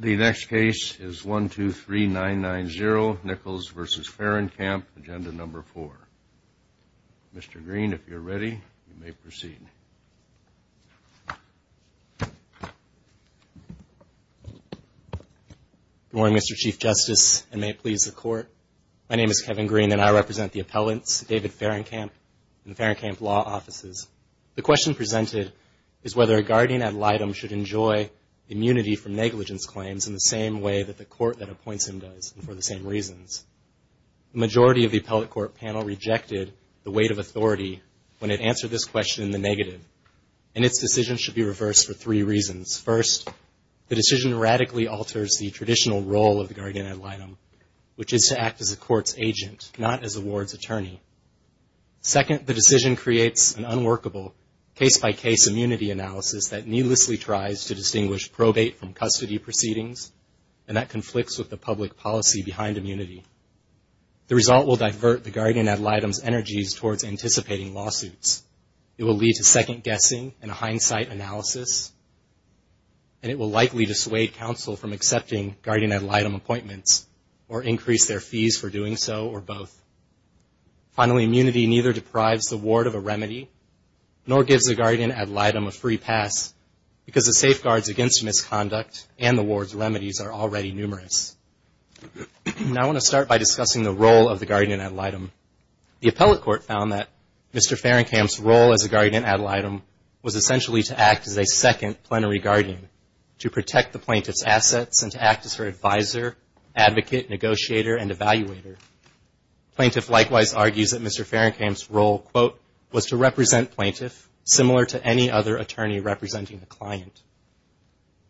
The next case is 123-990, Nichols v. Fahrenkamp, Agenda No. 4. Mr. Green, if you're ready, you may proceed. Good morning, Mr. Chief Justice, and may it please the Court. My name is Kevin Green, and I represent the appellants, David Fahrenkamp and the Fahrenkamp Law Offices. The question presented is whether a guardian ad litem should enjoy immunity from negligence claims in the same way that the court that appoints him does, and for the same reasons. The majority of the appellate court panel rejected the weight of authority when it answered this question in the negative, and its decision should be reversed for three reasons. First, the decision radically alters the traditional role of the guardian ad litem, which is to act as a court's agent, not as a ward's attorney. Second, the decision creates an unworkable case-by-case immunity analysis that needlessly tries to distinguish probate from custody proceedings, and that conflicts with the public policy behind immunity. The result will divert the guardian ad litem's energies towards anticipating lawsuits. It will lead to second-guessing and a hindsight analysis, and it will likely dissuade counsel from accepting guardian ad litem appointments, or increase their fees for doing so, or both. Finally, immunity neither deprives the ward of a remedy, nor gives the guardian ad litem a free pass, because the safeguards against misconduct and the ward's remedies are already numerous. Now I want to start by discussing the role of the guardian ad litem. The appellate court found that Mr. Fahrenkamp's role as a guardian ad litem was essentially to act as a second plenary guardian, to protect the plaintiff's assets, and to act as her advisor, advocate, negotiator, and evaluator. Plaintiff likewise argues that Mr. Fahrenkamp's role, quote, was to represent plaintiff, similar to any other attorney representing the client.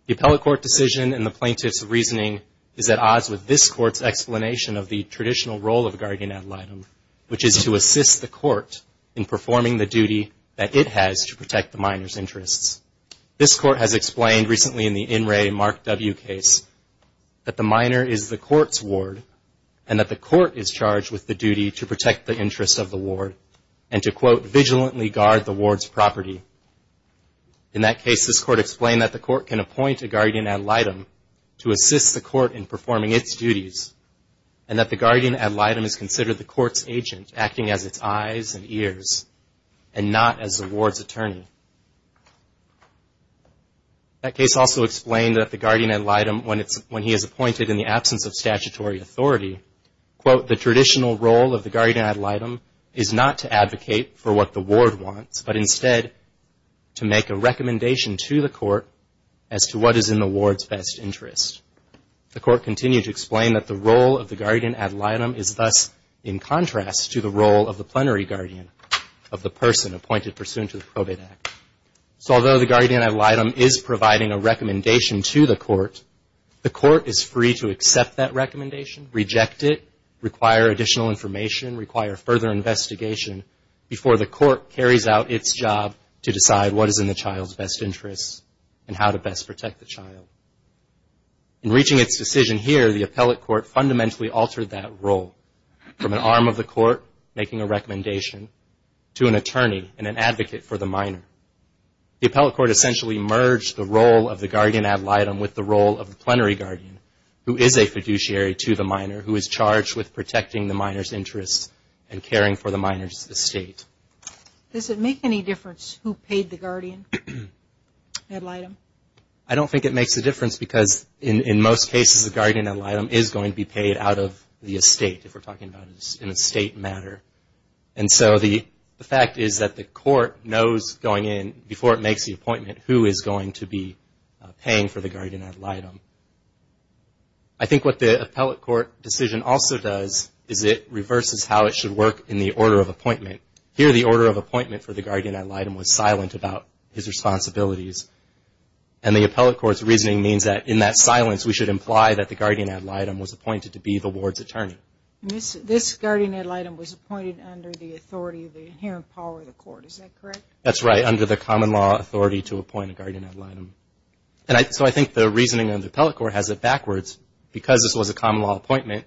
The appellate court decision and the plaintiff's reasoning is at odds with this court's explanation of the traditional role of the guardian ad litem, which is to assist the court in performing the duty that it has to protect the minor's interests. This court has explained recently in the In Re Mark W case that the minor is the court's ward, and that the court is charged with the duty to protect the interests of the ward, and to, quote, vigilantly guard the ward's property. In that case, this court explained that the court can appoint a guardian ad litem to assist the court in performing its duties, and that the guardian ad litem is considered the court's agent, acting as its eyes and ears, and not as the ward's attorney. That case also explained that the guardian ad litem, when he is appointed in the absence of statutory authority, quote, the traditional role of the guardian ad litem is not to advocate for what the ward wants, but instead to make a recommendation to the court as to what is in the ward's best interest. The court continued to explain that the role of the guardian ad litem is thus in contrast to the role of the plenary guardian of the person appointed pursuant to the Probate Act. So although the guardian ad litem is providing a recommendation to the court, the court is free to accept that recommendation, reject it, require additional information, require further investigation before the court carries out its job to decide what is in the child's best interest and how to best protect the child. In reaching its decision here, the appellate court fundamentally altered that role, from an arm of the court making a recommendation to an attorney and an advocate for the minor. The appellate court essentially merged the role of the guardian ad litem with the role of the plenary guardian, who is a fiduciary to the minor, who is charged with protecting the minor's interests and caring for the minor's estate. Does it make any difference who paid the guardian ad litem? I don't think it makes a difference because, in most cases, the guardian ad litem is going to be paid out of the estate, if we're talking about an estate matter. And so the fact is that the court knows going in, before it makes the appointment, who is going to be paying for the guardian ad litem. I think what the appellate court decision also does is it reverses how it should work in the order of appointment. Here, the order of appointment for the guardian ad litem was silent about his responsibilities. And the appellate court's reasoning means that, in that silence, we should imply that the guardian ad litem was appointed to be the ward's attorney. This guardian ad litem was appointed under the authority of the inherent power of the court. Is that correct? That's right, under the common law authority to appoint a guardian ad litem. So I think the reasoning of the appellate court has it backwards. Because this was a common law appointment,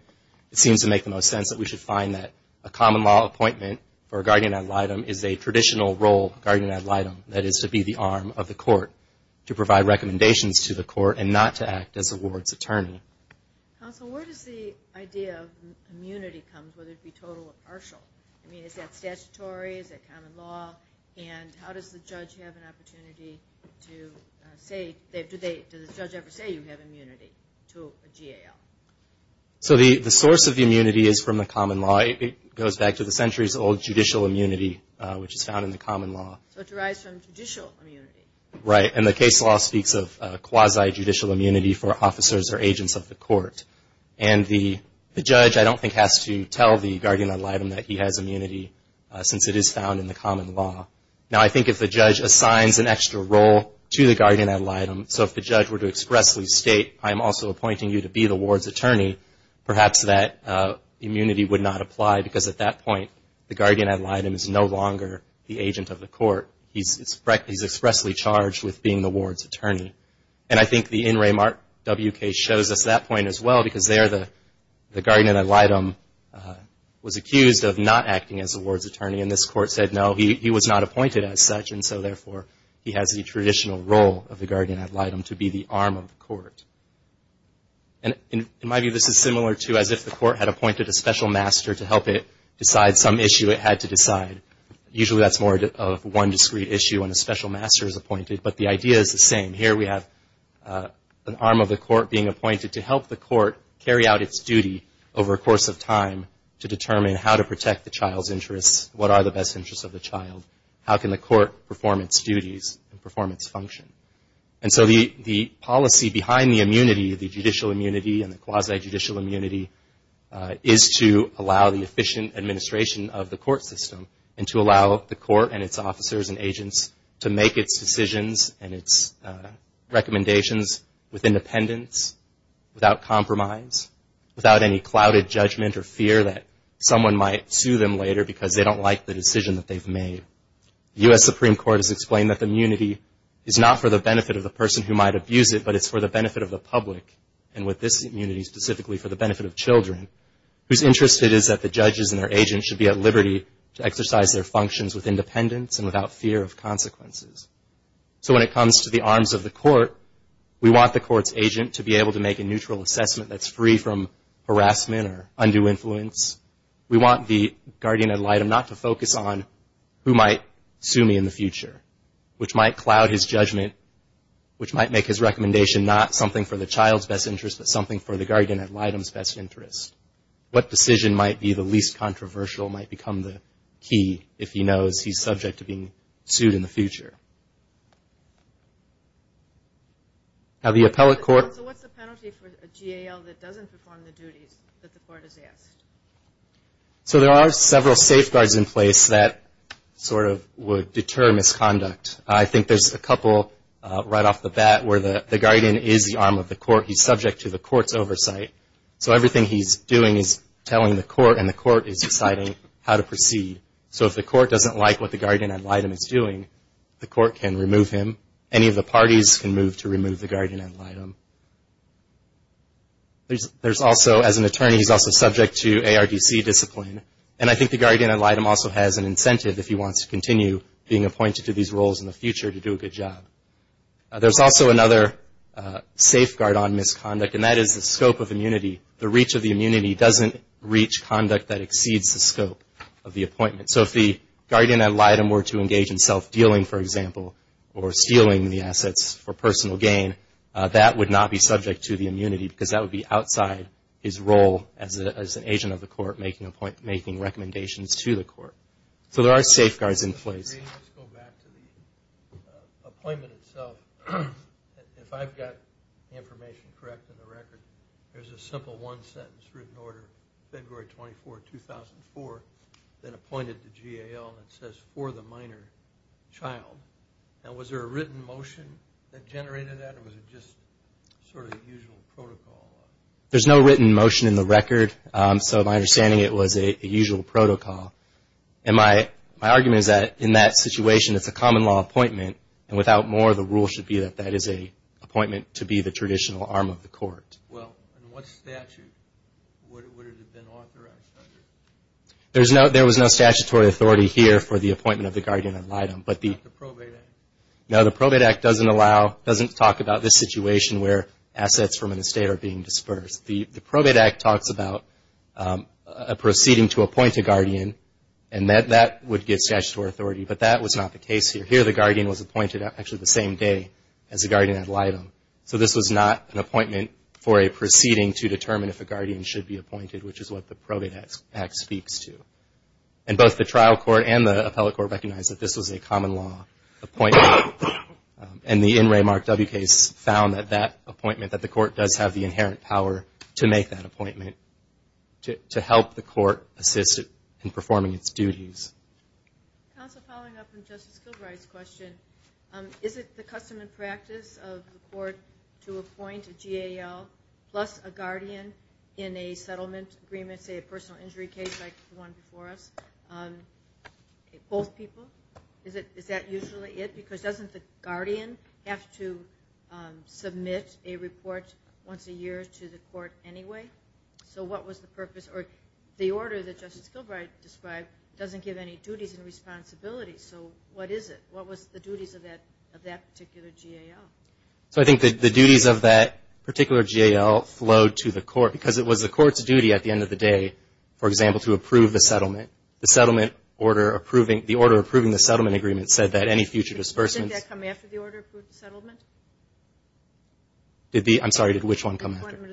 it seems to make the most sense that we should find that a common law appointment for a guardian ad litem is a traditional role, guardian ad litem, that is to be the arm of the court, to provide recommendations to the court and not to act as the ward's attorney. Counsel, where does the idea of immunity come from, whether it be total or partial? I mean, is that statutory? Is that common law? And how does the judge have an opportunity to say, does the judge ever say you have immunity to a GAL? So the source of the immunity is from the common law. It goes back to the centuries-old judicial immunity, which is found in the common law. So it derives from judicial immunity. Right, and the case law speaks of quasi-judicial immunity for officers or agents of the court. And the judge, I don't think, has to tell the guardian ad litem that he has immunity, since it is found in the common law. Now, I think if the judge assigns an extra role to the guardian ad litem, so if the judge were to expressly state, I'm also appointing you to be the ward's attorney, perhaps that immunity would not apply, because at that point the guardian ad litem is no longer the agent of the court. He's expressly charged with being the ward's attorney. And I think the In Re Mark W case shows us that point as well, because there the guardian ad litem was accused of not acting as the ward's attorney, and this court said, no, he was not appointed as such, and so therefore he has the traditional role of the guardian ad litem to be the arm of the court. And in my view, this is similar to as if the court had appointed a special master to help it decide some issue it had to decide. Usually that's more of one discrete issue when a special master is appointed, but the idea is the same. Here we have an arm of the court being appointed to help the court carry out its duty over a course of time to determine how to protect the child's interests, what are the best interests of the child, how can the court perform its duties and perform its function. And so the policy behind the immunity, the judicial immunity and the quasi-judicial immunity, is to allow the efficient administration of the court system and to allow the court and its officers and agents to make its decisions and its recommendations with independence, without compromise, without any clouded judgment or fear that someone might sue them later because they don't like the decision that they've made. The U.S. Supreme Court has explained that the immunity is not for the benefit of the person who might abuse it, but it's for the benefit of the public, and with this immunity specifically for the benefit of children, whose interest it is that the judges and their agents should be at liberty to exercise their functions with independence and without fear of consequences. So when it comes to the arms of the court, we want the court's agent to be able to make a neutral assessment that's free from harassment or undue influence. We want the guardian ad litem not to focus on who might sue me in the future, which might cloud his judgment, which might make his recommendation not something for the child's best interest, but something for the guardian ad litem's best interest. What decision might be the least controversial might become the key if he knows he's subject to being sued in the future. Now the appellate court... So what's the penalty for a GAL that doesn't perform the duties that the court has asked? So there are several safeguards in place that sort of would deter misconduct. I think there's a couple right off the bat where the guardian is the arm of the court. He's subject to the court's oversight. So everything he's doing is telling the court, and the court is deciding how to proceed. So if the court doesn't like what the guardian ad litem is doing, the court can remove him. Any of the parties can move to remove the guardian ad litem. There's also, as an attorney, he's also subject to ARDC discipline. And I think the guardian ad litem also has an incentive, if he wants to continue being appointed to these roles in the future, to do a good job. There's also another safeguard on misconduct, and that is the scope of immunity. The reach of the immunity doesn't reach conduct that exceeds the scope of the appointment. So if the guardian ad litem were to engage in self-dealing, for example, or stealing the assets for personal gain, that would not be subject to the immunity, because that would be outside his role as an agent of the court making recommendations to the court. So there are safeguards in place. Let's go back to the appointment itself. If I've got the information correct in the record, there's a simple one sentence, written order, February 24, 2004, then appointed to GAL, and it says, for the minor child. Now, was there a written motion that generated that, or was it just sort of the usual protocol? There's no written motion in the record, so my understanding, it was a usual protocol. And my argument is that in that situation, it's a common law appointment, and without more, the rule should be that that is an appointment to be the traditional arm of the court. Well, in what statute would it have been authorized under? There was no statutory authority here for the appointment of the guardian ad litem. Not the Probate Act? No, the Probate Act doesn't talk about this situation where assets from an estate are being dispersed. The Probate Act talks about a proceeding to appoint a guardian, and that would get statutory authority, but that was not the case here. Here the guardian was appointed actually the same day as the guardian ad litem. So this was not an appointment for a proceeding to determine if a guardian should be appointed, which is what the Probate Act speaks to. And both the trial court and the appellate court recognized that this was a common law appointment, and the In Re Mark W case found that that appointment, that the court does have the inherent power to make that appointment to help the court assist in performing its duties. Counsel, following up on Justice Gilbride's question, is it the custom and practice of the court to appoint a GAL plus a guardian in a settlement agreement, say a personal injury case like the one before us, both people? Is that usually it? Because doesn't the guardian have to submit a report once a year to the court anyway? So what was the purpose? Or the order that Justice Gilbride described doesn't give any duties and responsibilities, so what is it? What was the duties of that particular GAL? So I think the duties of that particular GAL flowed to the court, because it was the court's duty at the end of the day, for example, to approve the settlement. The settlement order approving, the order approving the settlement agreement said that any future disbursements. Did that come after the order approving the settlement? Did the, I'm sorry, did which one come after? The appointment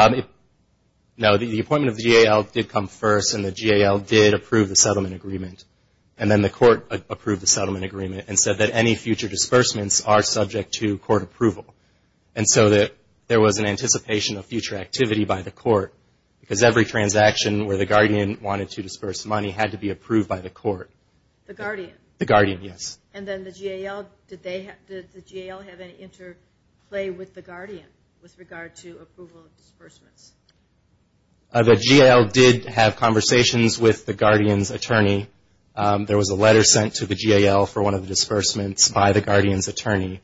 of the GAL. No, the appointment of the GAL did come first, and the GAL did approve the settlement agreement. And then the court approved the settlement agreement and said that any future disbursements are subject to court approval. And so there was an anticipation of future activity by the court, because every transaction where the guardian wanted to disburse money had to be approved by the court. The guardian? The guardian, yes. And then the GAL, did the GAL have any interplay with the guardian with regard to approval of disbursements? The GAL did have conversations with the guardian's attorney. There was a letter sent to the GAL for one of the disbursements by the guardian's attorney.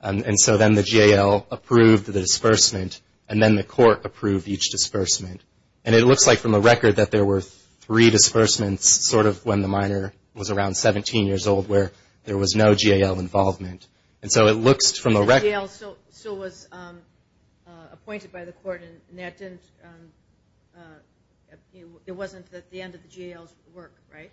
And so then the GAL approved the disbursement, and then the court approved each disbursement. And it looks like from the record that there were three disbursements sort of when the minor was around 17 years old, where there was no GAL involvement. And so it looks from the record. So the GAL was appointed by the court, and that didn't, it wasn't at the end of the GAL's work, right?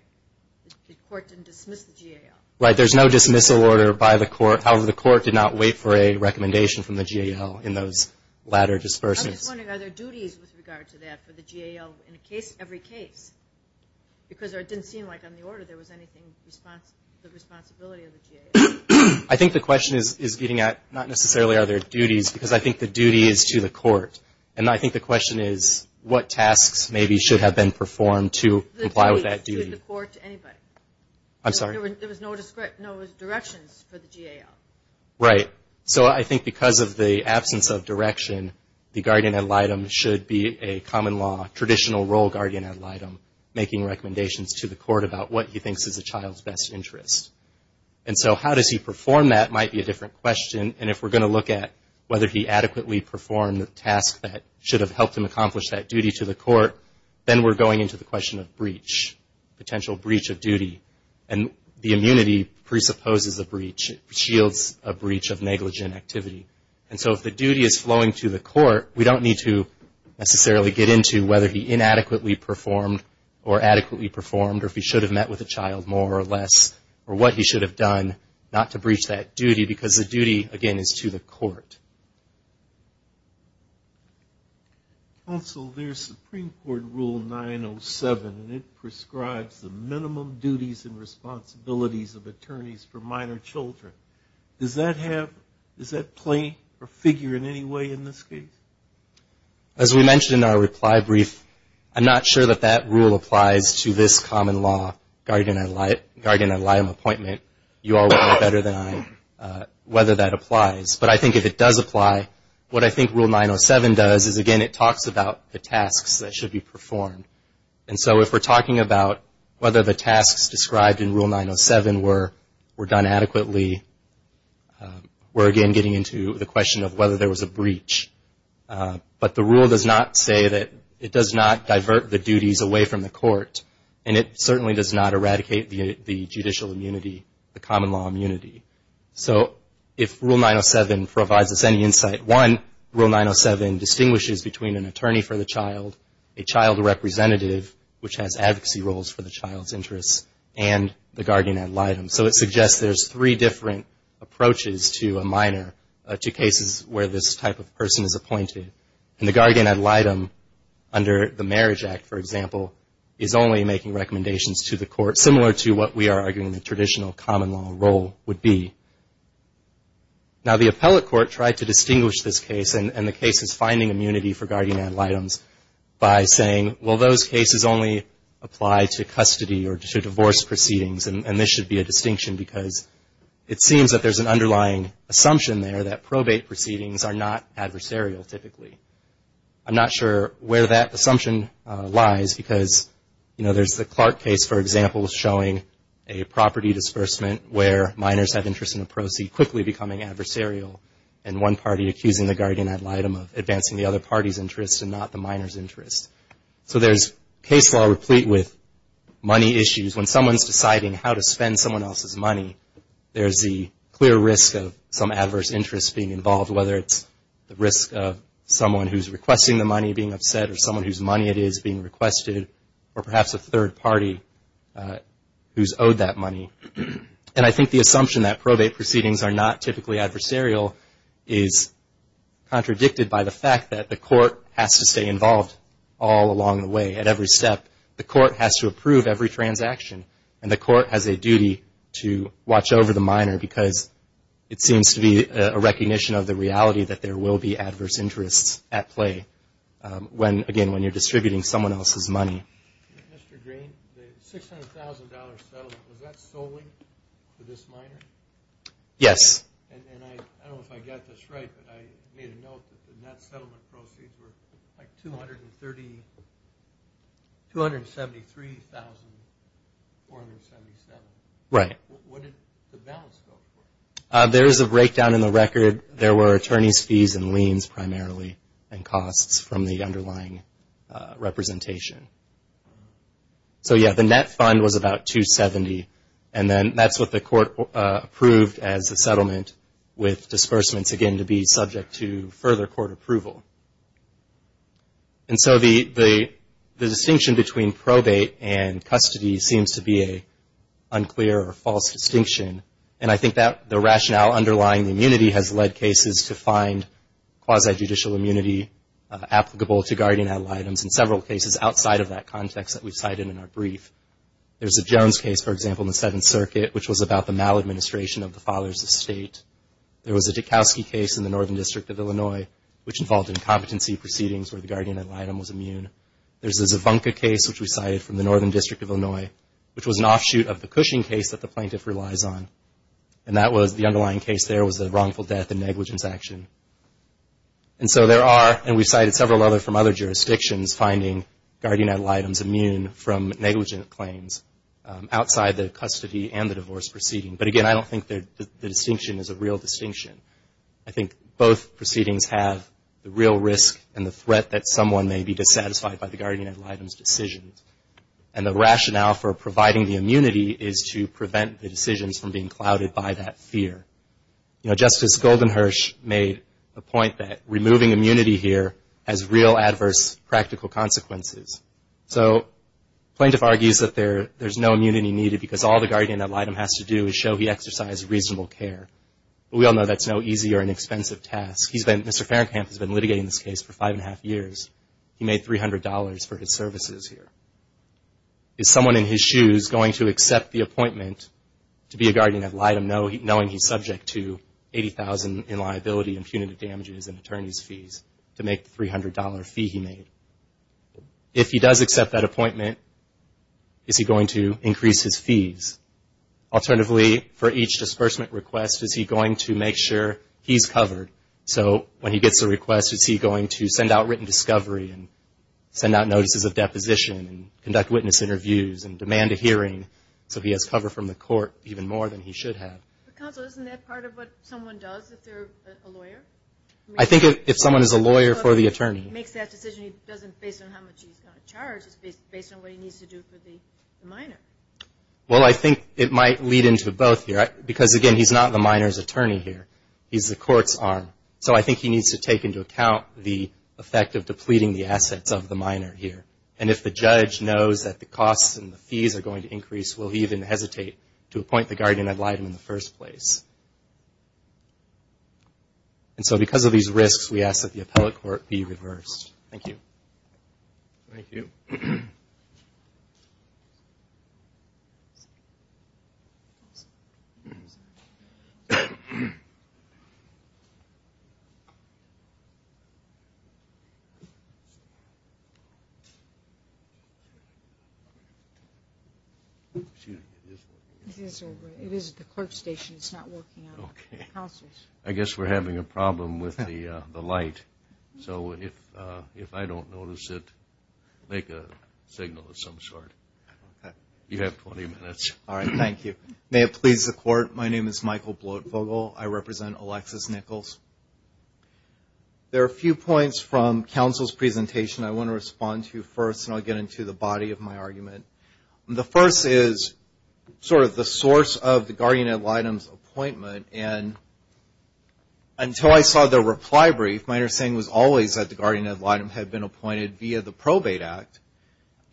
The court didn't dismiss the GAL. Right. There's no dismissal order by the court. However, the court did not wait for a recommendation from the GAL in those latter disbursements. I'm just wondering, are there duties with regard to that for the GAL in every case? Because it didn't seem like on the order there was anything, the responsibility of the GAL. I think the question is getting at not necessarily are there duties, because I think the duty is to the court. And I think the question is what tasks maybe should have been performed to comply with that duty. Was the duty to the court to anybody? I'm sorry? There was no directions for the GAL. Right. So I think because of the absence of direction, the guardian ad litem should be a common law, traditional role guardian ad litem making recommendations to the court about what he thinks is a child's best interest. And so how does he perform that might be a different question. And if we're going to look at whether he adequately performed the task that should have helped him accomplish that duty to the court, then we're going into the question of breach, potential breach of duty. And the immunity presupposes a breach, shields a breach of negligent activity. And so if the duty is flowing to the court, we don't need to necessarily get into whether he inadequately performed or adequately performed or if he should have met with a child more or less or what he should have done not to breach that duty because the duty, again, is to the court. Counsel, there's Supreme Court Rule 907, and it prescribes the minimum duties and responsibilities of attorneys for minor children. Does that play or figure in any way in this case? As we mentioned in our reply brief, I'm not sure that that rule applies to this common law, guardian ad litem appointment. You all know better than I whether that applies. But I think if it does apply, what I think Rule 907 does is, again, it talks about the tasks that should be performed. And so if we're talking about whether the tasks described in Rule 907 were done adequately, we're again getting into the question of whether there was a breach. But the rule does not say that it does not divert the duties away from the court, and it certainly does not eradicate the judicial immunity, the common law immunity. So if Rule 907 provides us any insight, one, Rule 907 distinguishes between an attorney for the child, a child representative which has advocacy roles for the child's interests, and the guardian ad litem. So it suggests there's three different approaches to a minor, to cases where this type of person is appointed. And the guardian ad litem under the Marriage Act, for example, is only making recommendations to the court, similar to what we are arguing the traditional common law role would be. Now, the appellate court tried to distinguish this case and the cases finding immunity for guardian ad litems by saying, well, those cases only apply to custody or to divorce proceedings, and this should be a distinction, because it seems that there's an underlying assumption there that probate proceedings are not adversarial, typically. I'm not sure where that assumption lies, because, you know, there's the Clark case, for example, showing a property disbursement where minors have interest in a proceed quickly becoming adversarial, and one party accusing the guardian ad litem of advancing the other party's interest and not the minor's interest. So there's case law replete with money issues. When someone's deciding how to spend someone else's money, there's the clear risk of some adverse interest being involved, whether it's the risk of someone who's requesting the money being upset or someone whose money it is being requested, or perhaps a third party who's owed that money. And I think the assumption that probate proceedings are not typically adversarial is contradicted by the fact that the court has to stay involved all along the way at every step. The court has to approve every transaction, and the court has a duty to watch over the minor, because it seems to be a recognition of the reality that there will be adverse interests at play when, again, when you're distributing someone else's money. Mr. Green, the $600,000 settlement, was that solely for this minor? Yes. And I don't know if I got this right, but I made a note that the net settlement proceeds were like $273,477. Right. What did the balance go for? There is a breakdown in the record. There were attorney's fees and liens, primarily, and costs from the underlying representation. So, yeah, the net fund was about $270,000, and then that's what the court approved as a settlement with disbursements, again, to be subject to further court approval. And so the distinction between probate and custody seems to be an unclear or false distinction, and I think that the rationale underlying the immunity has led cases to find quasi-judicial immunity applicable to guardian ad litems in several cases outside of that context that we cited in our brief. There's a Jones case, for example, in the Seventh Circuit, which was about the maladministration of the father's estate. There was a Joukowsky case in the Northern District of Illinois, which involved incompetency proceedings where the guardian ad litem was immune. There's a Zvonka case, which we cited from the Northern District of Illinois, which was an offshoot of the Cushing case that the plaintiff relies on, and that was the underlying case there was the wrongful death and negligence action. And so there are, and we cited several other from other jurisdictions, finding guardian ad litems immune from negligent claims outside the custody and the divorce proceeding. But again, I don't think the distinction is a real distinction. I think both proceedings have the real risk and the threat that someone may be dissatisfied by the guardian ad litem's decisions. And the rationale for providing the immunity is to prevent the decisions from being clouded by that fear. You know, Justice Goldenhirsch made the point that removing immunity here has real adverse practical consequences. So plaintiff argues that there's no immunity needed because all the guardian ad litem has to do is show he exercised reasonable care. But we all know that's no easy or inexpensive task. He's been, Mr. Fahrenkamp has been litigating this case for five and a half years. He made $300 for his services here. Is someone in his shoes going to accept the appointment to be a guardian ad litem knowing he's subject to $80,000 in liability and punitive damages and attorney's fees to make the $300 fee he made? If he does accept that appointment, is he going to increase his fees? Alternatively, for each disbursement request, is he going to make sure he's covered? So when he gets a request, is he going to send out written discovery and send out notices of deposition and conduct witness interviews and demand a hearing so he has cover from the court even more than he should have? Counsel, isn't that part of what someone does if they're a lawyer? I think if someone is a lawyer for the attorney. If he makes that decision, he doesn't base it on how much he's going to charge. It's based on what he needs to do for the minor. Well, I think it might lead into both here because, again, he's not the minor's attorney here. He's the court's arm. So I think he needs to take into account the effect of depleting the assets of the minor here. And if the judge knows that the costs and the fees are going to increase, will he even hesitate to appoint the guardian ad litem in the first place? And so because of these risks, we ask that the appellate court be reversed. Thank you. Thank you. Excuse me. It is the clerk's station. It's not working. I guess we're having a problem with the light. So if I don't notice it, make a signal of some sort. You have 20 minutes. All right. Thank you. May it please the court, my name is Michael Bloatvogel. I represent Alexis Nichols. There are a few points from counsel's presentation I want to respond to first, and I'll get into the body of my argument. The first is sort of the source of the guardian ad litem's appointment. And until I saw the reply brief, my understanding was always that the guardian ad litem had been appointed via the Probate Act.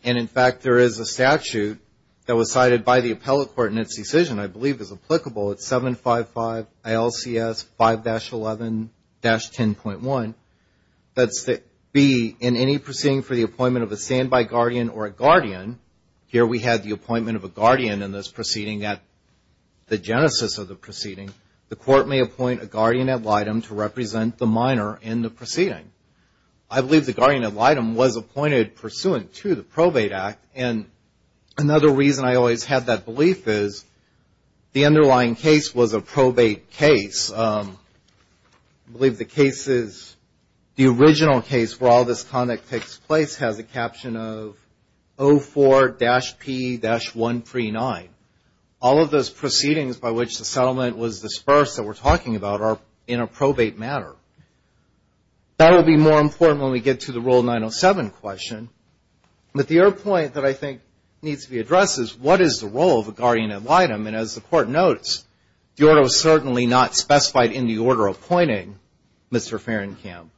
And, in fact, there is a statute that was cited by the appellate court in its decision, I believe is applicable. It's 755 ILCS 5-11-10.1. That's to be in any proceeding for the appointment of a standby guardian or a guardian. Here we had the appointment of a guardian in this proceeding at the proceeding. The court may appoint a guardian ad litem to represent the minor in the proceeding. I believe the guardian ad litem was appointed pursuant to the Probate Act. And another reason I always had that belief is the underlying case was a probate case. I believe the case is, the original case where all this conduct takes place, has a caption of 04-P-139. All of those proceedings by which the settlement was dispersed that we're talking about are in a probate matter. That will be more important when we get to the Rule 907 question. But the other point that I think needs to be addressed is, what is the role of a guardian ad litem? And as the court notes, the order was certainly not specified in the order appointing Mr. Fahrenkamp.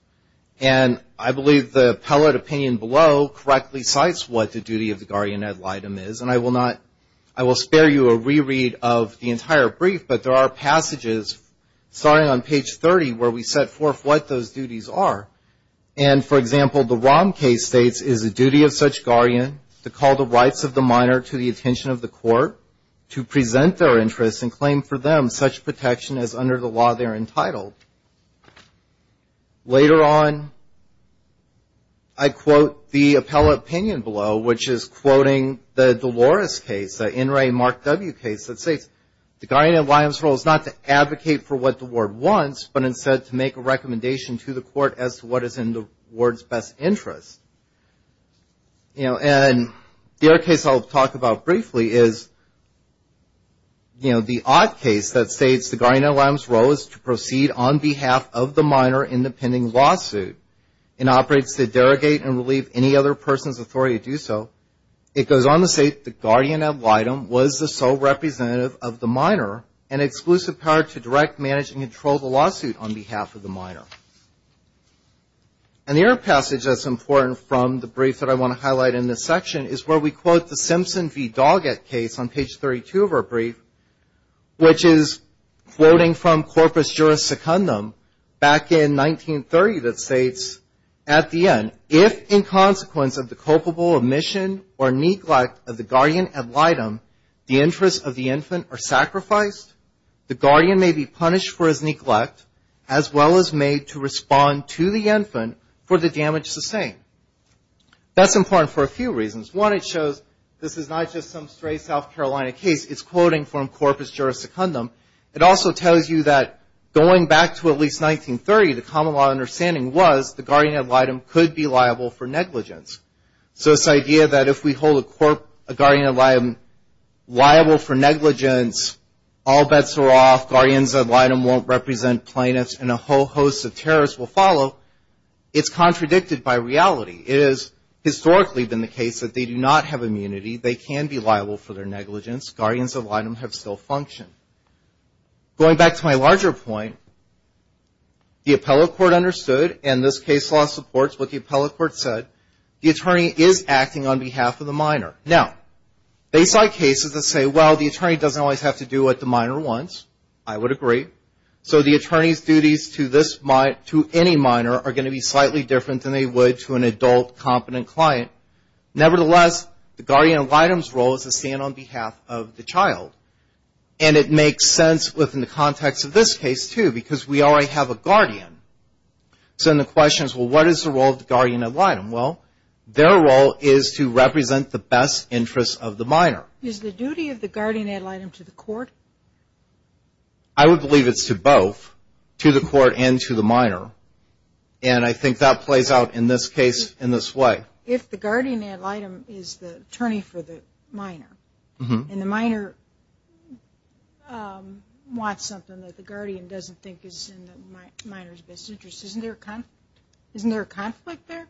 And I believe the appellate opinion below correctly cites what the duty of the guardian ad litem is. And I will not, I will spare you a reread of the entire brief, but there are passages starting on page 30 where we set forth what those duties are. And, for example, the Rom case states, it is the duty of such guardian to call the rights of the minor to the attention of the court to present their interests and claim for them such protection as under the law they're entitled. Later on, I quote the appellate opinion below, which is quoting the Dolores case, the In re Mark W case that states, the guardian ad litem's role is not to advocate for what the ward wants, but instead to make a recommendation to the court as to what is in the ward's best interest. You know, and the other case I'll talk about briefly is, you know, the Ott case that states the guardian ad litem's role is to proceed on behalf of the minor in the pending lawsuit and operates to derogate and relieve any other person's authority to do so. It goes on to say the guardian ad litem was the sole representative of the minor and exclusive power to direct, manage, and control the lawsuit on behalf of the minor. And the other passage that's important from the brief that I want to highlight in this section is where we quote the Simpson v. Simpson case, which is quoting from corpus juris secundum back in 1930 that states, at the end, if in consequence of the culpable omission or neglect of the guardian ad litem, the interests of the infant are sacrificed, the guardian may be punished for his neglect, as well as made to respond to the infant for the damage sustained. That's important for a few reasons. One, it shows this is not just some stray South Carolina case. It's quoting from corpus juris secundum. It also tells you that going back to at least 1930, the common law understanding was the guardian ad litem could be liable for negligence. So this idea that if we hold a guardian ad litem liable for negligence, all bets are off, guardian ad litem won't represent plaintiffs, and a whole host of terrorists will follow, it's contradicted by reality. It has historically been the case that they do not have immunity. They can be liable for their negligence. Guardians ad litem have still functioned. Going back to my larger point, the appellate court understood, and this case law supports what the appellate court said, the attorney is acting on behalf of the minor. Now, they cite cases that say, well, the attorney doesn't always have to do what the minor wants. I would agree. So the attorney's duties to any minor are going to be slightly different than they would to an adult, competent client. Nevertheless, the guardian ad litem's role is to stand on behalf of the child, and it makes sense within the context of this case, too, because we already have a guardian. So then the question is, well, what is the role of the guardian ad litem? Well, their role is to represent the best interests of the minor. Is the duty of the guardian ad litem to the court? I would believe it's to both, to the court and to the minor, and I think that plays out in this case in this way. If the guardian ad litem is the attorney for the minor, and the minor wants something that the guardian doesn't think is in the minor's best interest, isn't there a conflict there?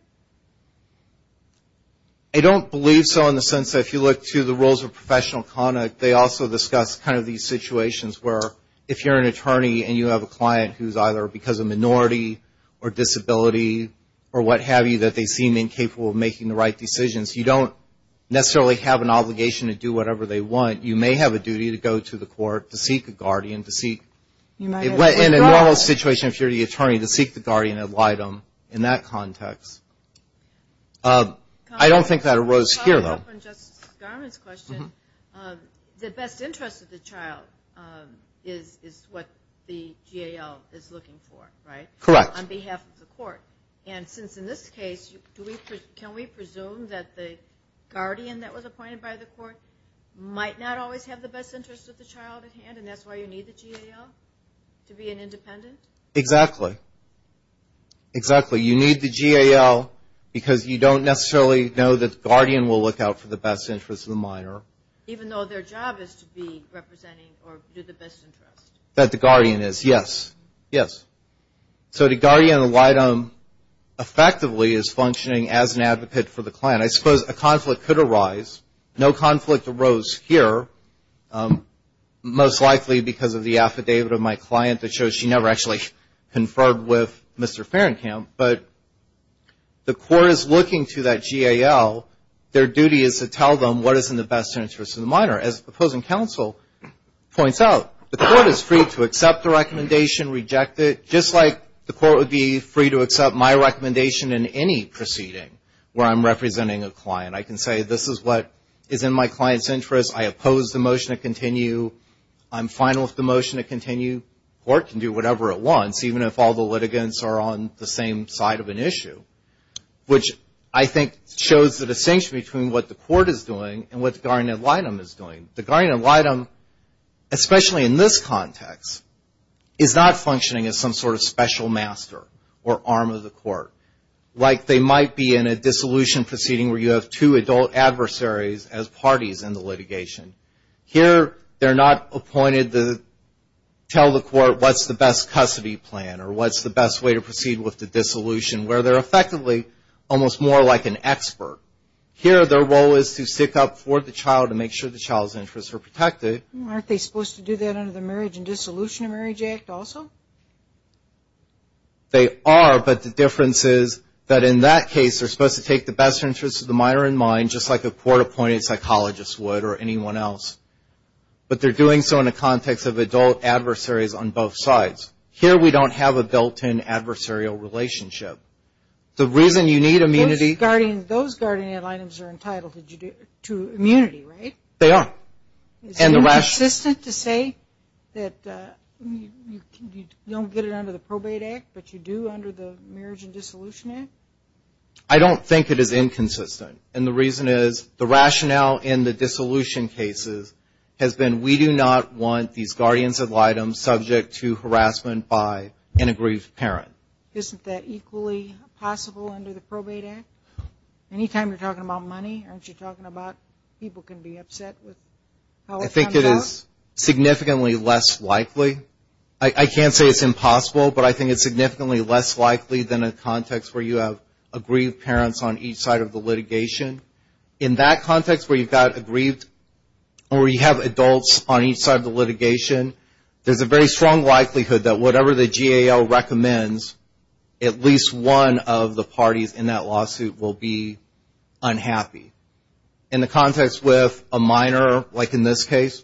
I don't believe so in the sense that if you look to the roles of professional conduct, they also discuss kind of these situations where if you're an attorney and you have a client who's either because of minority or disability or what other people are making the right decisions, you don't necessarily have an obligation to do whatever they want. You may have a duty to go to the court to seek a guardian to seek. In a normal situation, if you're the attorney, to seek the guardian ad litem in that context. I don't think that arose here, though. The best interest of the child is what the GAL is looking for, right? Correct. On behalf of the court. And since in this case, can we presume that the guardian that was appointed by the court might not always have the best interest of the child at hand, and that's why you need the GAL to be an independent? Exactly. Exactly. You need the GAL because you don't necessarily know that the guardian will look out for the best interest of the minor. Even though their job is to be representing or do the best interest. That the guardian is, yes. Yes. So the guardian ad litem effectively is functioning as an advocate for the client. I suppose a conflict could arise. No conflict arose here. Most likely because of the affidavit of my client that shows she never actually conferred with Mr. Ferencamp. But the court is looking to that GAL. Their duty is to tell them what is in the best interest of the minor. As the opposing counsel points out, the court is free to accept the affidavit. Just like the court would be free to accept my recommendation in any proceeding where I'm representing a client. I can say this is what is in my client's interest. I oppose the motion to continue. I'm fine with the motion to continue. The court can do whatever it wants, even if all the litigants are on the same side of an issue, which I think shows the distinction between what the court is doing and what the guardian ad litem is doing. The guardian ad litem, especially in this context, is not functioning as some sort of special master or arm of the court. Like they might be in a dissolution proceeding where you have two adult adversaries as parties in the litigation. Here they're not appointed to tell the court what's the best custody plan or what's the best way to proceed with the dissolution, where they're effectively almost more like an expert. Here their role is to stick up for the child and make sure the child's interests are protected. Aren't they supposed to do that under the Marriage and Dissolution of Marriage Act also? They are, but the difference is that in that case they're supposed to take the best interests of the minor in mind, just like a court-appointed psychologist would or anyone else. But they're doing so in the context of adult adversaries on both sides. Here we don't have a built-in adversarial relationship. The reason you need immunity. Those guardian ad litems are entitled to immunity, right? They are. Is it consistent to say that you don't get it under the Probate Act, but you do under the Marriage and Dissolution Act? I don't think it is inconsistent, and the reason is the rationale in the dissolution cases has been we do not want these guardians ad litems subject to harassment by an aggrieved parent. Isn't that equally possible under the Probate Act? Any time you're talking about money, aren't you talking about people can be upset with how it turns out? I think it is significantly less likely. I can't say it's impossible, but I think it's significantly less likely than a context where you have aggrieved parents on each side of the litigation. In that context where you've got aggrieved or you have adults on each side of the litigation, there's a very strong likelihood that whatever the GAO recommends, at least one of the parties in that lawsuit will be unhappy. In the context with a minor, like in this case,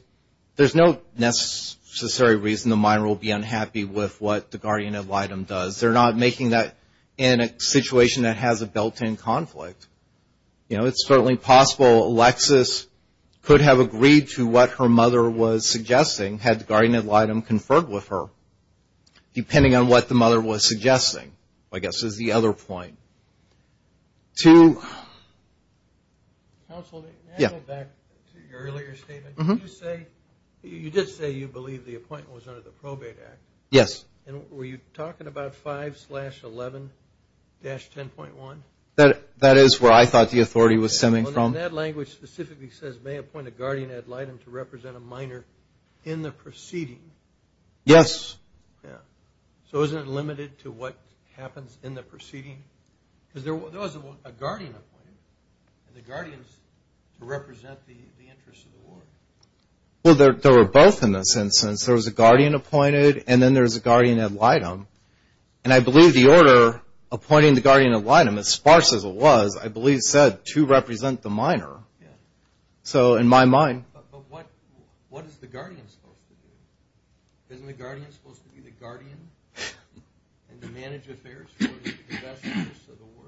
there's no necessary reason the minor will be unhappy with what the guardian ad litem does. They're not making that in a situation that has a built-in conflict. You know, it's certainly possible Alexis could have agreed to what her mother was suggesting had the guardian ad litem conferred with her, depending on what the mother was suggesting, I guess, is the other point. Counsel, can I go back to your earlier statement? You did say you believe the appointment was under the Probate Act. Yes. Were you talking about 5-11-10.1? That is where I thought the authority was stemming from. And that language specifically says, may appoint a guardian ad litem to represent a minor in the proceeding. Yes. Yeah. So isn't it limited to what happens in the proceeding? Because there was a guardian appointed, and the guardians represent the interests of the war. Well, there were both in this instance. There was a guardian appointed, and then there was a guardian ad litem. And I believe the order appointing the guardian ad litem, as sparse as it was, I believe said, to represent the minor. Yeah. So in my mind. But what is the guardian supposed to do? Isn't the guardian supposed to be the guardian and manage affairs for the investors of the war?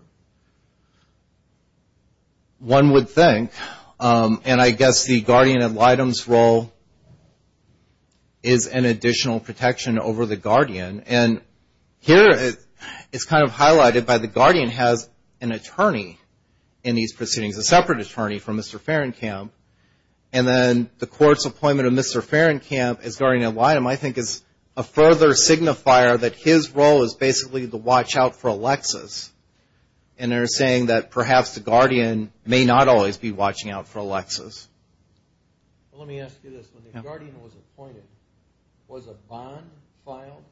One would think. And I guess the guardian ad litem's role is an additional protection over the guardian. And here it's kind of highlighted by the guardian has an attorney in these proceedings, a separate attorney from Mr. Ferencamp. And then the court's appointment of Mr. Ferencamp as guardian ad litem, I think, is a further signifier that his role is basically to watch out for Alexis. And they're saying that perhaps the guardian may not always be watching out for Alexis. Let me ask you this. When the guardian was appointed, was a bond filed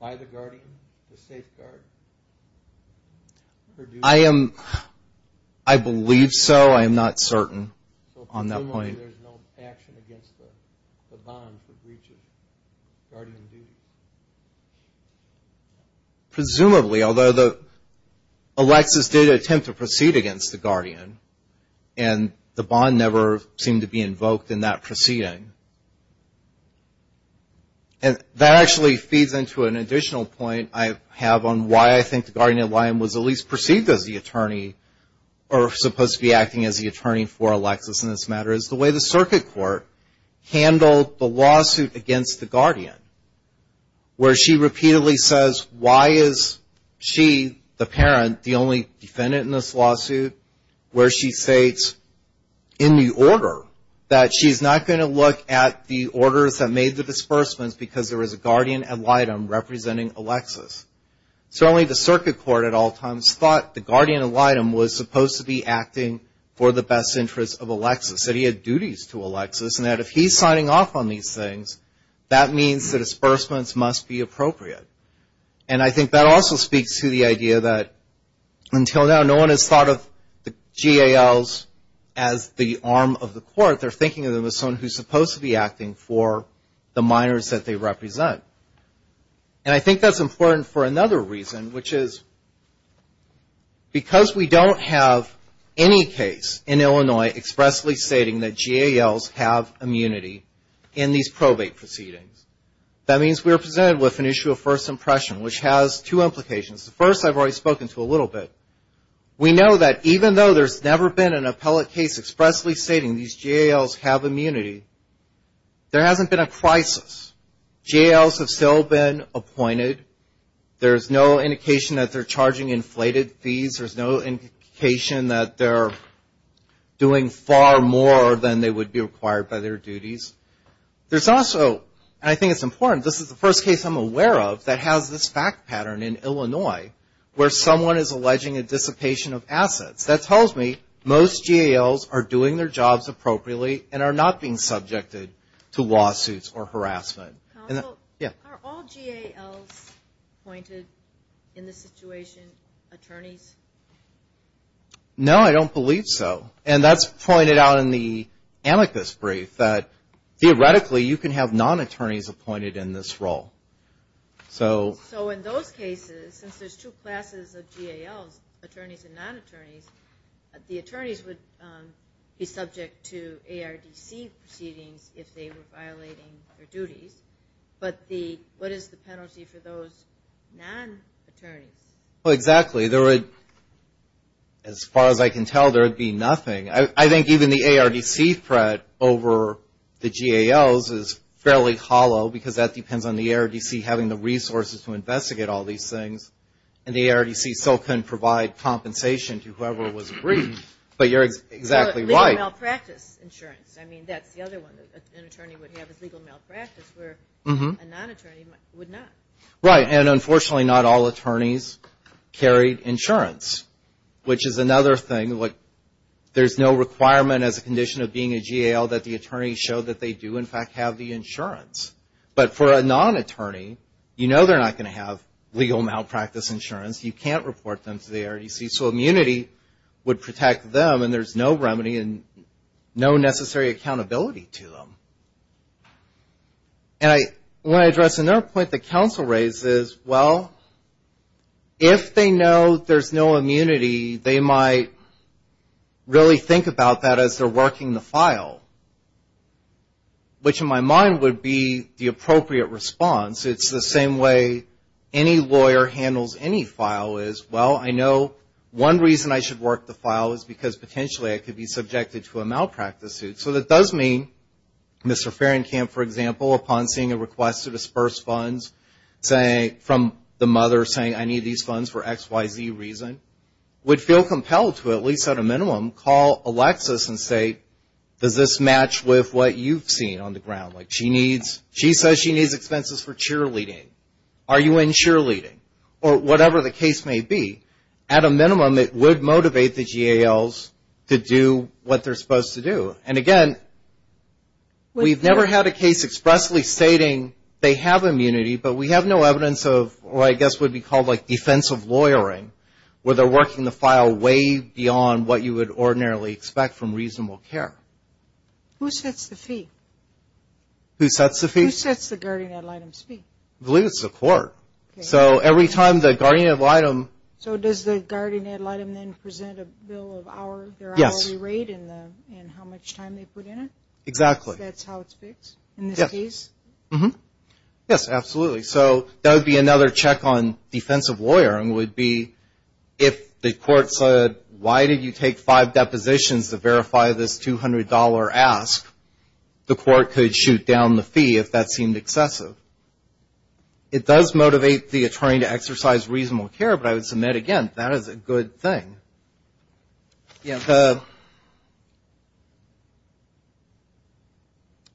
by the guardian to safeguard her duty? I believe so. I am not certain on that point. So presumably there's no action against the bond for breaches, guardian duty. Presumably, although Alexis did attempt to proceed against the guardian, and the bond never seemed to be invoked in that proceeding. And that actually feeds into an additional point I have on why I think the guardian ad litem was at least perceived as the attorney, or supposed to be acting as the attorney for Alexis in this matter, is the way the circuit court handled the lawsuit against the guardian, where she repeatedly says, why is she, the parent, the only defendant in this lawsuit, where she states, in the order, that she's not going to look at the orders that made the disbursements, because there is a guardian ad litem representing Alexis. Certainly the circuit court at all times thought the guardian ad litem was supposed to be acting for the best interest of Alexis, that he had duties to Alexis, and that if he's signing off on these things, that means the disbursements must be appropriate. And I think that also speaks to the idea that until now no one has thought of the GALs as the arm of the court. They're thinking of them as someone who's supposed to be acting for the minors that they represent. And I think that's important for another reason, which is because we don't have any case in Illinois expressly stating that GALs have immunity in these probate proceedings, that means we're presented with an issue of first impression, which has two implications. The first I've already spoken to a little bit. We know that even though there's never been an appellate case expressly stating these GALs have immunity, there hasn't been a crisis. GALs have still been appointed. There's no indication that they're charging inflated fees. There's no indication that they're doing far more than they would be required by their duties. There's also, and I think it's important, this is the first case I'm aware of that has this fact pattern in Illinois where someone is alleging a dissipation of assets. That tells me most GALs are doing their jobs appropriately and are not being subjected to lawsuits or harassment. Yeah. Are all GALs appointed in this situation attorneys? No, I don't believe so. And that's pointed out in the amicus brief that theoretically you can have non-attorneys appointed in this role. So in those cases, since there's two classes of GALs, attorneys and non-attorneys, the attorneys would be subject to ARDC proceedings if they were violating their duties. But what is the penalty for those non-attorneys? Well, exactly. There would, as far as I can tell, there would be nothing. I think even the ARDC threat over the GALs is fairly hollow because that depends on the ARDC having the resources to investigate all these things. And the ARDC still can provide compensation to whoever was briefed. But you're exactly right. Well, legal malpractice insurance. I mean, that's the other one that an attorney would have is legal malpractice where a non-attorney would not. Right. And unfortunately, not all attorneys carry insurance, which is another thing. There's no requirement as a condition of being a GAL that the attorney show that they do, in fact, have the insurance. But for a non-attorney, you know they're not going to have legal malpractice insurance. You can't report them to the ARDC. So immunity would protect them, and there's no remedy and no necessary accountability to them. And I want to address another point that counsel raises. Well, if they know there's no immunity, they might really think about that as they're working the file, which in my mind would be the appropriate response. It's the same way any lawyer handles any file is, well, I know one reason I should work the file is because potentially I could be subjected to a malpractice suit. So that does mean Mr. Fahrenkamp, for example, upon seeing a request to disperse funds from the mother saying, I need these funds for X, Y, Z reason, would feel compelled to at least at a minimum call Alexis and say, does this match with what you've seen on the ground? Like she says she needs expenses for cheerleading. Are you in cheerleading? Or whatever the case may be. At a minimum, it would motivate the GALs to do what they're supposed to do. And, again, we've never had a case expressly stating they have immunity, but we have no evidence of what I guess would be called like defensive lawyering where they're working the file way beyond what you would ordinarily expect from reasonable care. Who sets the fee? Who sets the fee? Who sets the guardian ad litem's fee? I believe it's the court. So every time the guardian ad litem. So does the guardian ad litem then present a bill of their hourly rate and how much time they put in it? Exactly. So that's how it's fixed in this case? Yes, absolutely. So that would be another check on defensive lawyering would be if the court said, why did you take five depositions to verify this $200 ask? The court could shoot down the fee if that seemed excessive. It does motivate the attorney to exercise reasonable care, but I would submit, again, that is a good thing. Yeah.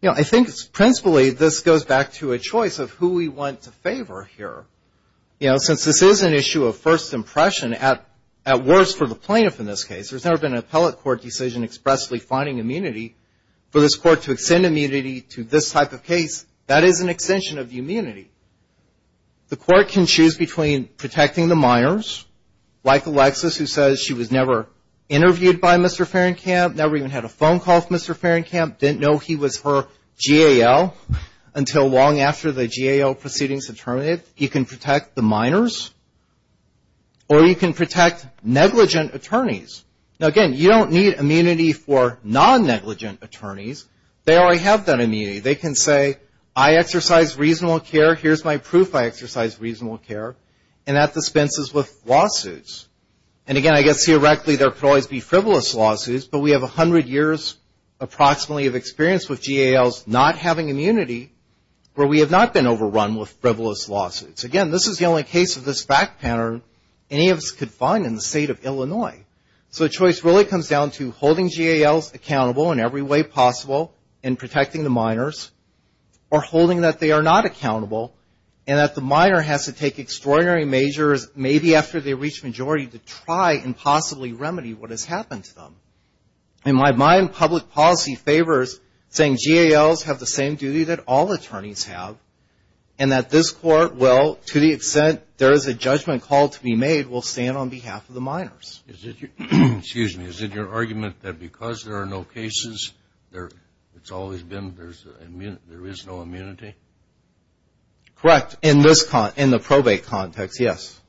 You know, I think principally this goes back to a choice of who we want to favor here. You know, since this is an issue of first impression, at worst for the plaintiff in this case, there's never been an appellate court decision expressly finding immunity for this court to extend immunity to this type of case. That is an extension of the immunity. The court can choose between protecting the minors, like Alexis who says she was never interviewed by Mr. Fahrenkamp, never even had a phone call with Mr. Fahrenkamp, didn't know he was her GAL until long after the GAL proceedings had terminated. You can protect the minors, or you can protect negligent attorneys. Now, again, you don't need immunity for non-negligent attorneys. They already have that immunity. They can say, I exercise reasonable care, here's my proof I exercise reasonable care, and that dispenses with lawsuits. And, again, I guess theoretically there could always be frivolous lawsuits, but we have 100 years approximately of experience with GALs not having immunity where we have not been overrun with frivolous lawsuits. Again, this is the only case of this fact pattern any of us could find in the state of Illinois. So choice really comes down to holding GALs accountable in every way possible in protecting the minors, or holding that they are not accountable, and that the minor has to take extraordinary measures maybe after they reach majority to try and possibly remedy what has happened to them. In my mind, public policy favors saying GALs have the same duty that all attorneys have, and that this Court will, to the extent there is a judgment call to be made, will stand on behalf of the minors. Yes. Excuse me. Is it your argument that because there are no cases, it's always been there is no immunity? Correct. In the probate context, yes.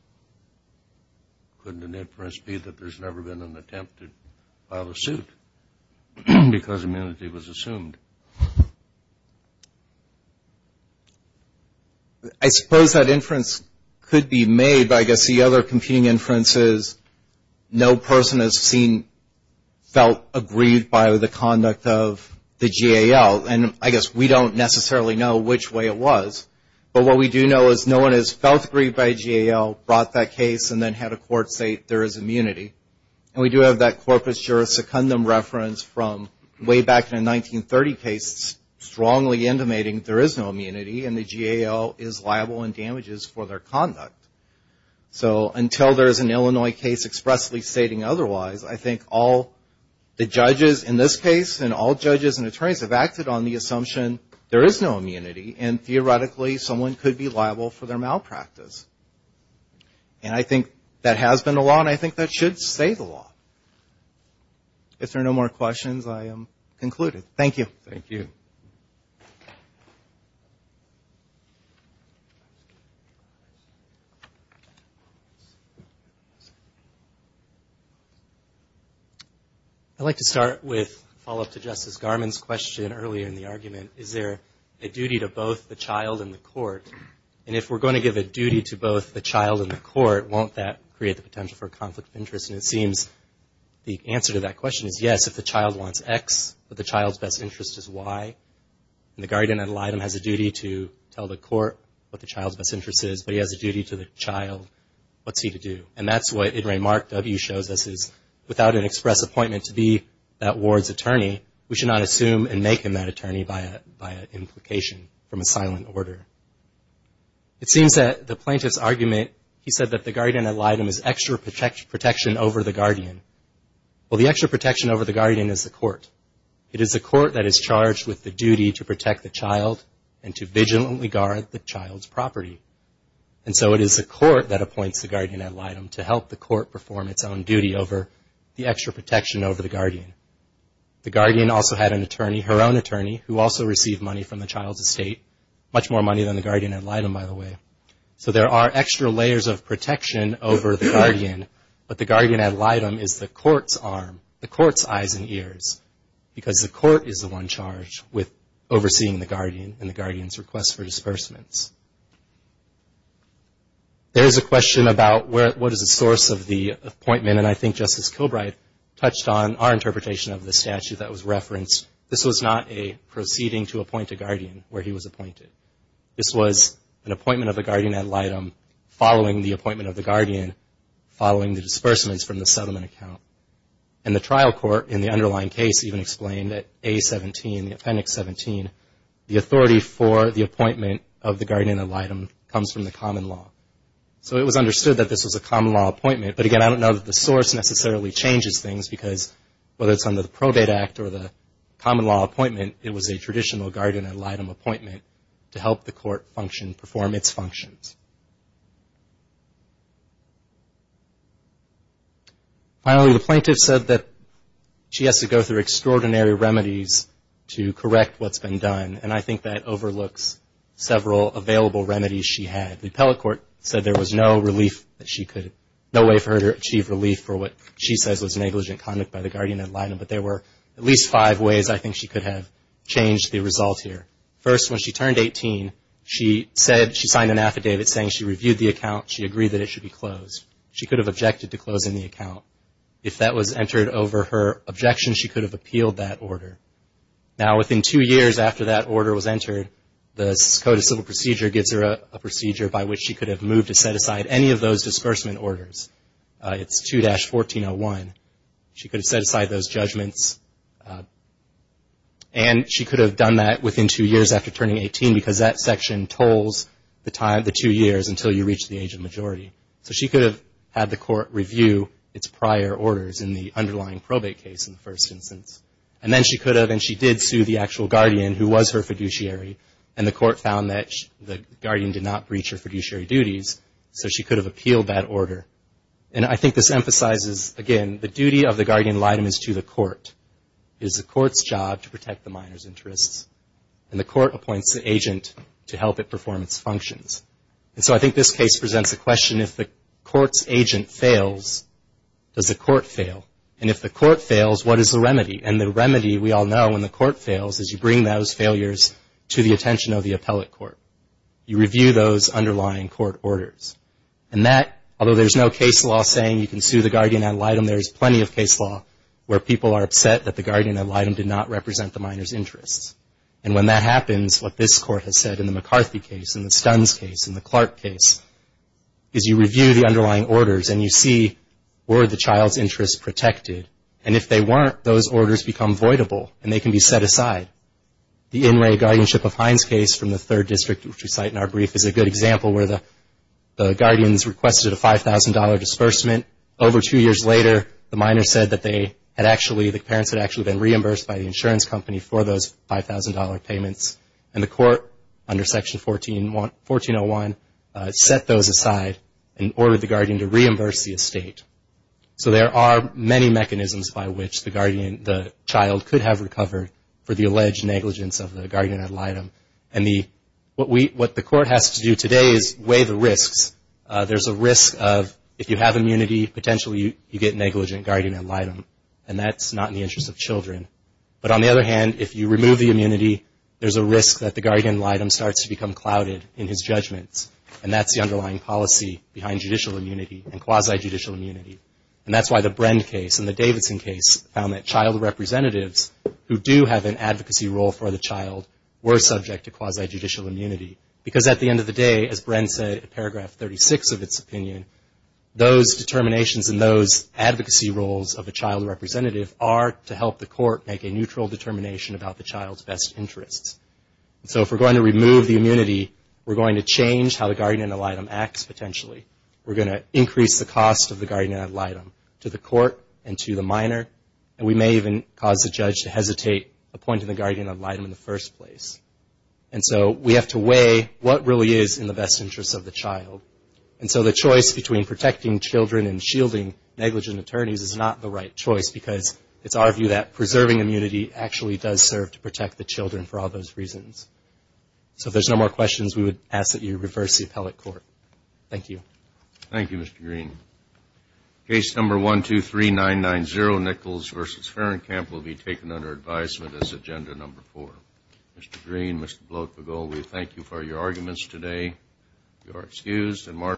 Couldn't an inference be that there's never been an attempt to file a suit because immunity was assumed? I suppose that inference could be made, but I guess the other competing inference is no person has felt aggrieved by the conduct of the GAL, and I guess we don't necessarily know which way it was. But what we do know is no one has felt aggrieved by a GAL, brought that case, and then had a court say there is immunity. And we do have that corpus juris secundum reference from way back in a 1930 case strongly intimating there is no immunity, and the GAL is liable in damages for their conduct. So until there is an Illinois case expressly stating otherwise, I think all the judges in this case and all judges and attorneys have acted on the assumption there is no immunity, and theoretically someone could be liable for their malpractice. And I think that has been the law, and I think that should stay the law. If there are no more questions, I am concluded. Thank you. Thank you. I'd like to start with a follow-up to Justice Garmon's question earlier in the argument. Is there a duty to both the child and the court? And if we're going to give a duty to both the child and the court, won't that create the potential for a conflict of interest? And it seems the answer to that question is yes, if the child wants X, but the child's best interest is Y. And the guardian ad litem has a duty to tell the court what the child's best interest is, but he has a duty to the child. What's he to do? And that's what Idre Mark W. shows us is without an express appointment to be that ward's attorney, we should not assume and make him that attorney by implication from a silent order. It seems that the plaintiff's argument, he said that the guardian ad litem is extra protection over the guardian. Well, the extra protection over the guardian is the court. It is the court that is charged with the duty to protect the child and to vigilantly guard the child's property. And so it is the court that appoints the guardian ad litem to help the court perform its own duty over the extra protection over the guardian. The guardian also had an attorney, her own attorney, who also received money from the child's estate, much more money than the guardian ad litem, by the way. So there are extra layers of protection over the guardian, but the guardian ad litem is the court's arm, the court's eyes and ears, because the court is the one charged with overseeing the guardian and the guardian's request for disbursements. There is a question about what is the source of the appointment, and I think Justice Kilbright touched on our interpretation of the statute that was referenced. This was not a proceeding to appoint a guardian where he was appointed. This was an appointment of a guardian ad litem following the appointment of the guardian, following the disbursements from the settlement account. And the trial court in the underlying case even explained that A17, the appendix 17, the authority for the appointment of the guardian ad litem comes from the common law. So it was understood that this was a common law appointment, but again, I don't know that the source necessarily changes things, because whether it's under the Probate Act or the common law appointment, it was a traditional guardian ad litem appointment to help the court function, perform its functions. Finally, the plaintiff said that she has to go through extraordinary remedies to correct what's been done, and I think that overlooks several available remedies she had. The appellate court said there was no way for her to achieve relief for what she says was negligent conduct by the guardian ad litem, but there were at least five ways I think she could have changed the result here. First, when she turned 18, she signed an affidavit saying she reviewed the account, she agreed that it should be closed. She could have objected to closing the account. If that was entered over her objection, she could have appealed that order. Now, within two years after that order was entered, the Dakota Civil Procedure gives her a procedure by which she could have moved to set aside any of those disbursement orders. It's 2-1401. She could have set aside those judgments, and she could have done that within two years after turning 18, because that section tolls the two years until you reach the age of majority. So she could have had the court review its prior orders in the underlying probate case in the first instance. And then she could have, and she did sue the actual guardian, who was her fiduciary, and the court found that the guardian did not breach her fiduciary duties, so she could have appealed that order. And I think this emphasizes, again, the duty of the guardian litem is to the court. It is the court's job to protect the minor's interests, and the court appoints the agent to help it perform its functions. And so I think this case presents the question, if the court's agent fails, does the court fail? And if the court fails, what is the remedy? And the remedy, we all know, when the court fails, is you bring those failures to the attention of the appellate court. You review those underlying court orders. And that, although there's no case law saying you can sue the guardian ad litem, there's plenty of case law where people are upset that the guardian ad litem did not represent the minor's interests. And when that happens, what this court has said in the McCarthy case, in the Stunn's case, in the Clark case, is you review the underlying orders, and you see were the child's interests protected. And if they weren't, those orders become voidable, and they can be set aside. The In Re Guardianship of Hines case from the Third District, which we cite in our brief, is a good example where the guardians requested a $5,000 disbursement. Over two years later, the minor said that they had actually, the parents had actually been reimbursed by the insurance company for those $5,000 payments. And the court, under Section 1401, set those aside and ordered the guardian to reimburse the estate. So there are many mechanisms by which the guardian, the child could have recovered for the alleged negligence of the guardian ad litem. And what the court has to do today is weigh the risks. There's a risk of, if you have immunity, potentially you get negligent guardian ad litem. And that's not in the interest of children. But on the other hand, if you remove the immunity, there's a risk that the guardian ad litem starts to become clouded in his judgments. And that's the underlying policy behind judicial immunity and quasi-judicial immunity. And that's why the Brend case and the Davidson case found that child representatives who do have an advocacy role for the child were subject to quasi-judicial immunity. Because at the end of the day, as Bren said in Paragraph 36 of its opinion, those determinations and those advocacy roles of a child representative are to help the court make a neutral determination about the child's best interests. So if we're going to remove the immunity, we're going to change how the guardian ad litem acts potentially. We're going to increase the cost of the guardian ad litem to the court and to the minor. And we may even cause the judge to hesitate appointing the guardian ad litem in the first place. And so we have to weigh what really is in the best interest of the child. And so the choice between protecting children and shielding negligent attorneys is not the right choice, because it's our view that preserving immunity actually does serve to protect the children for all those reasons. So if there's no more questions, we would ask that you reverse the appellate court. Thank you. Thank you, Mr. Green. Case number 123990, Nichols v. Ferenkamp, will be taken under advisement as agenda number four. Mr. Green, Mr. Blok-Bagul, we thank you for your arguments today. You are excused.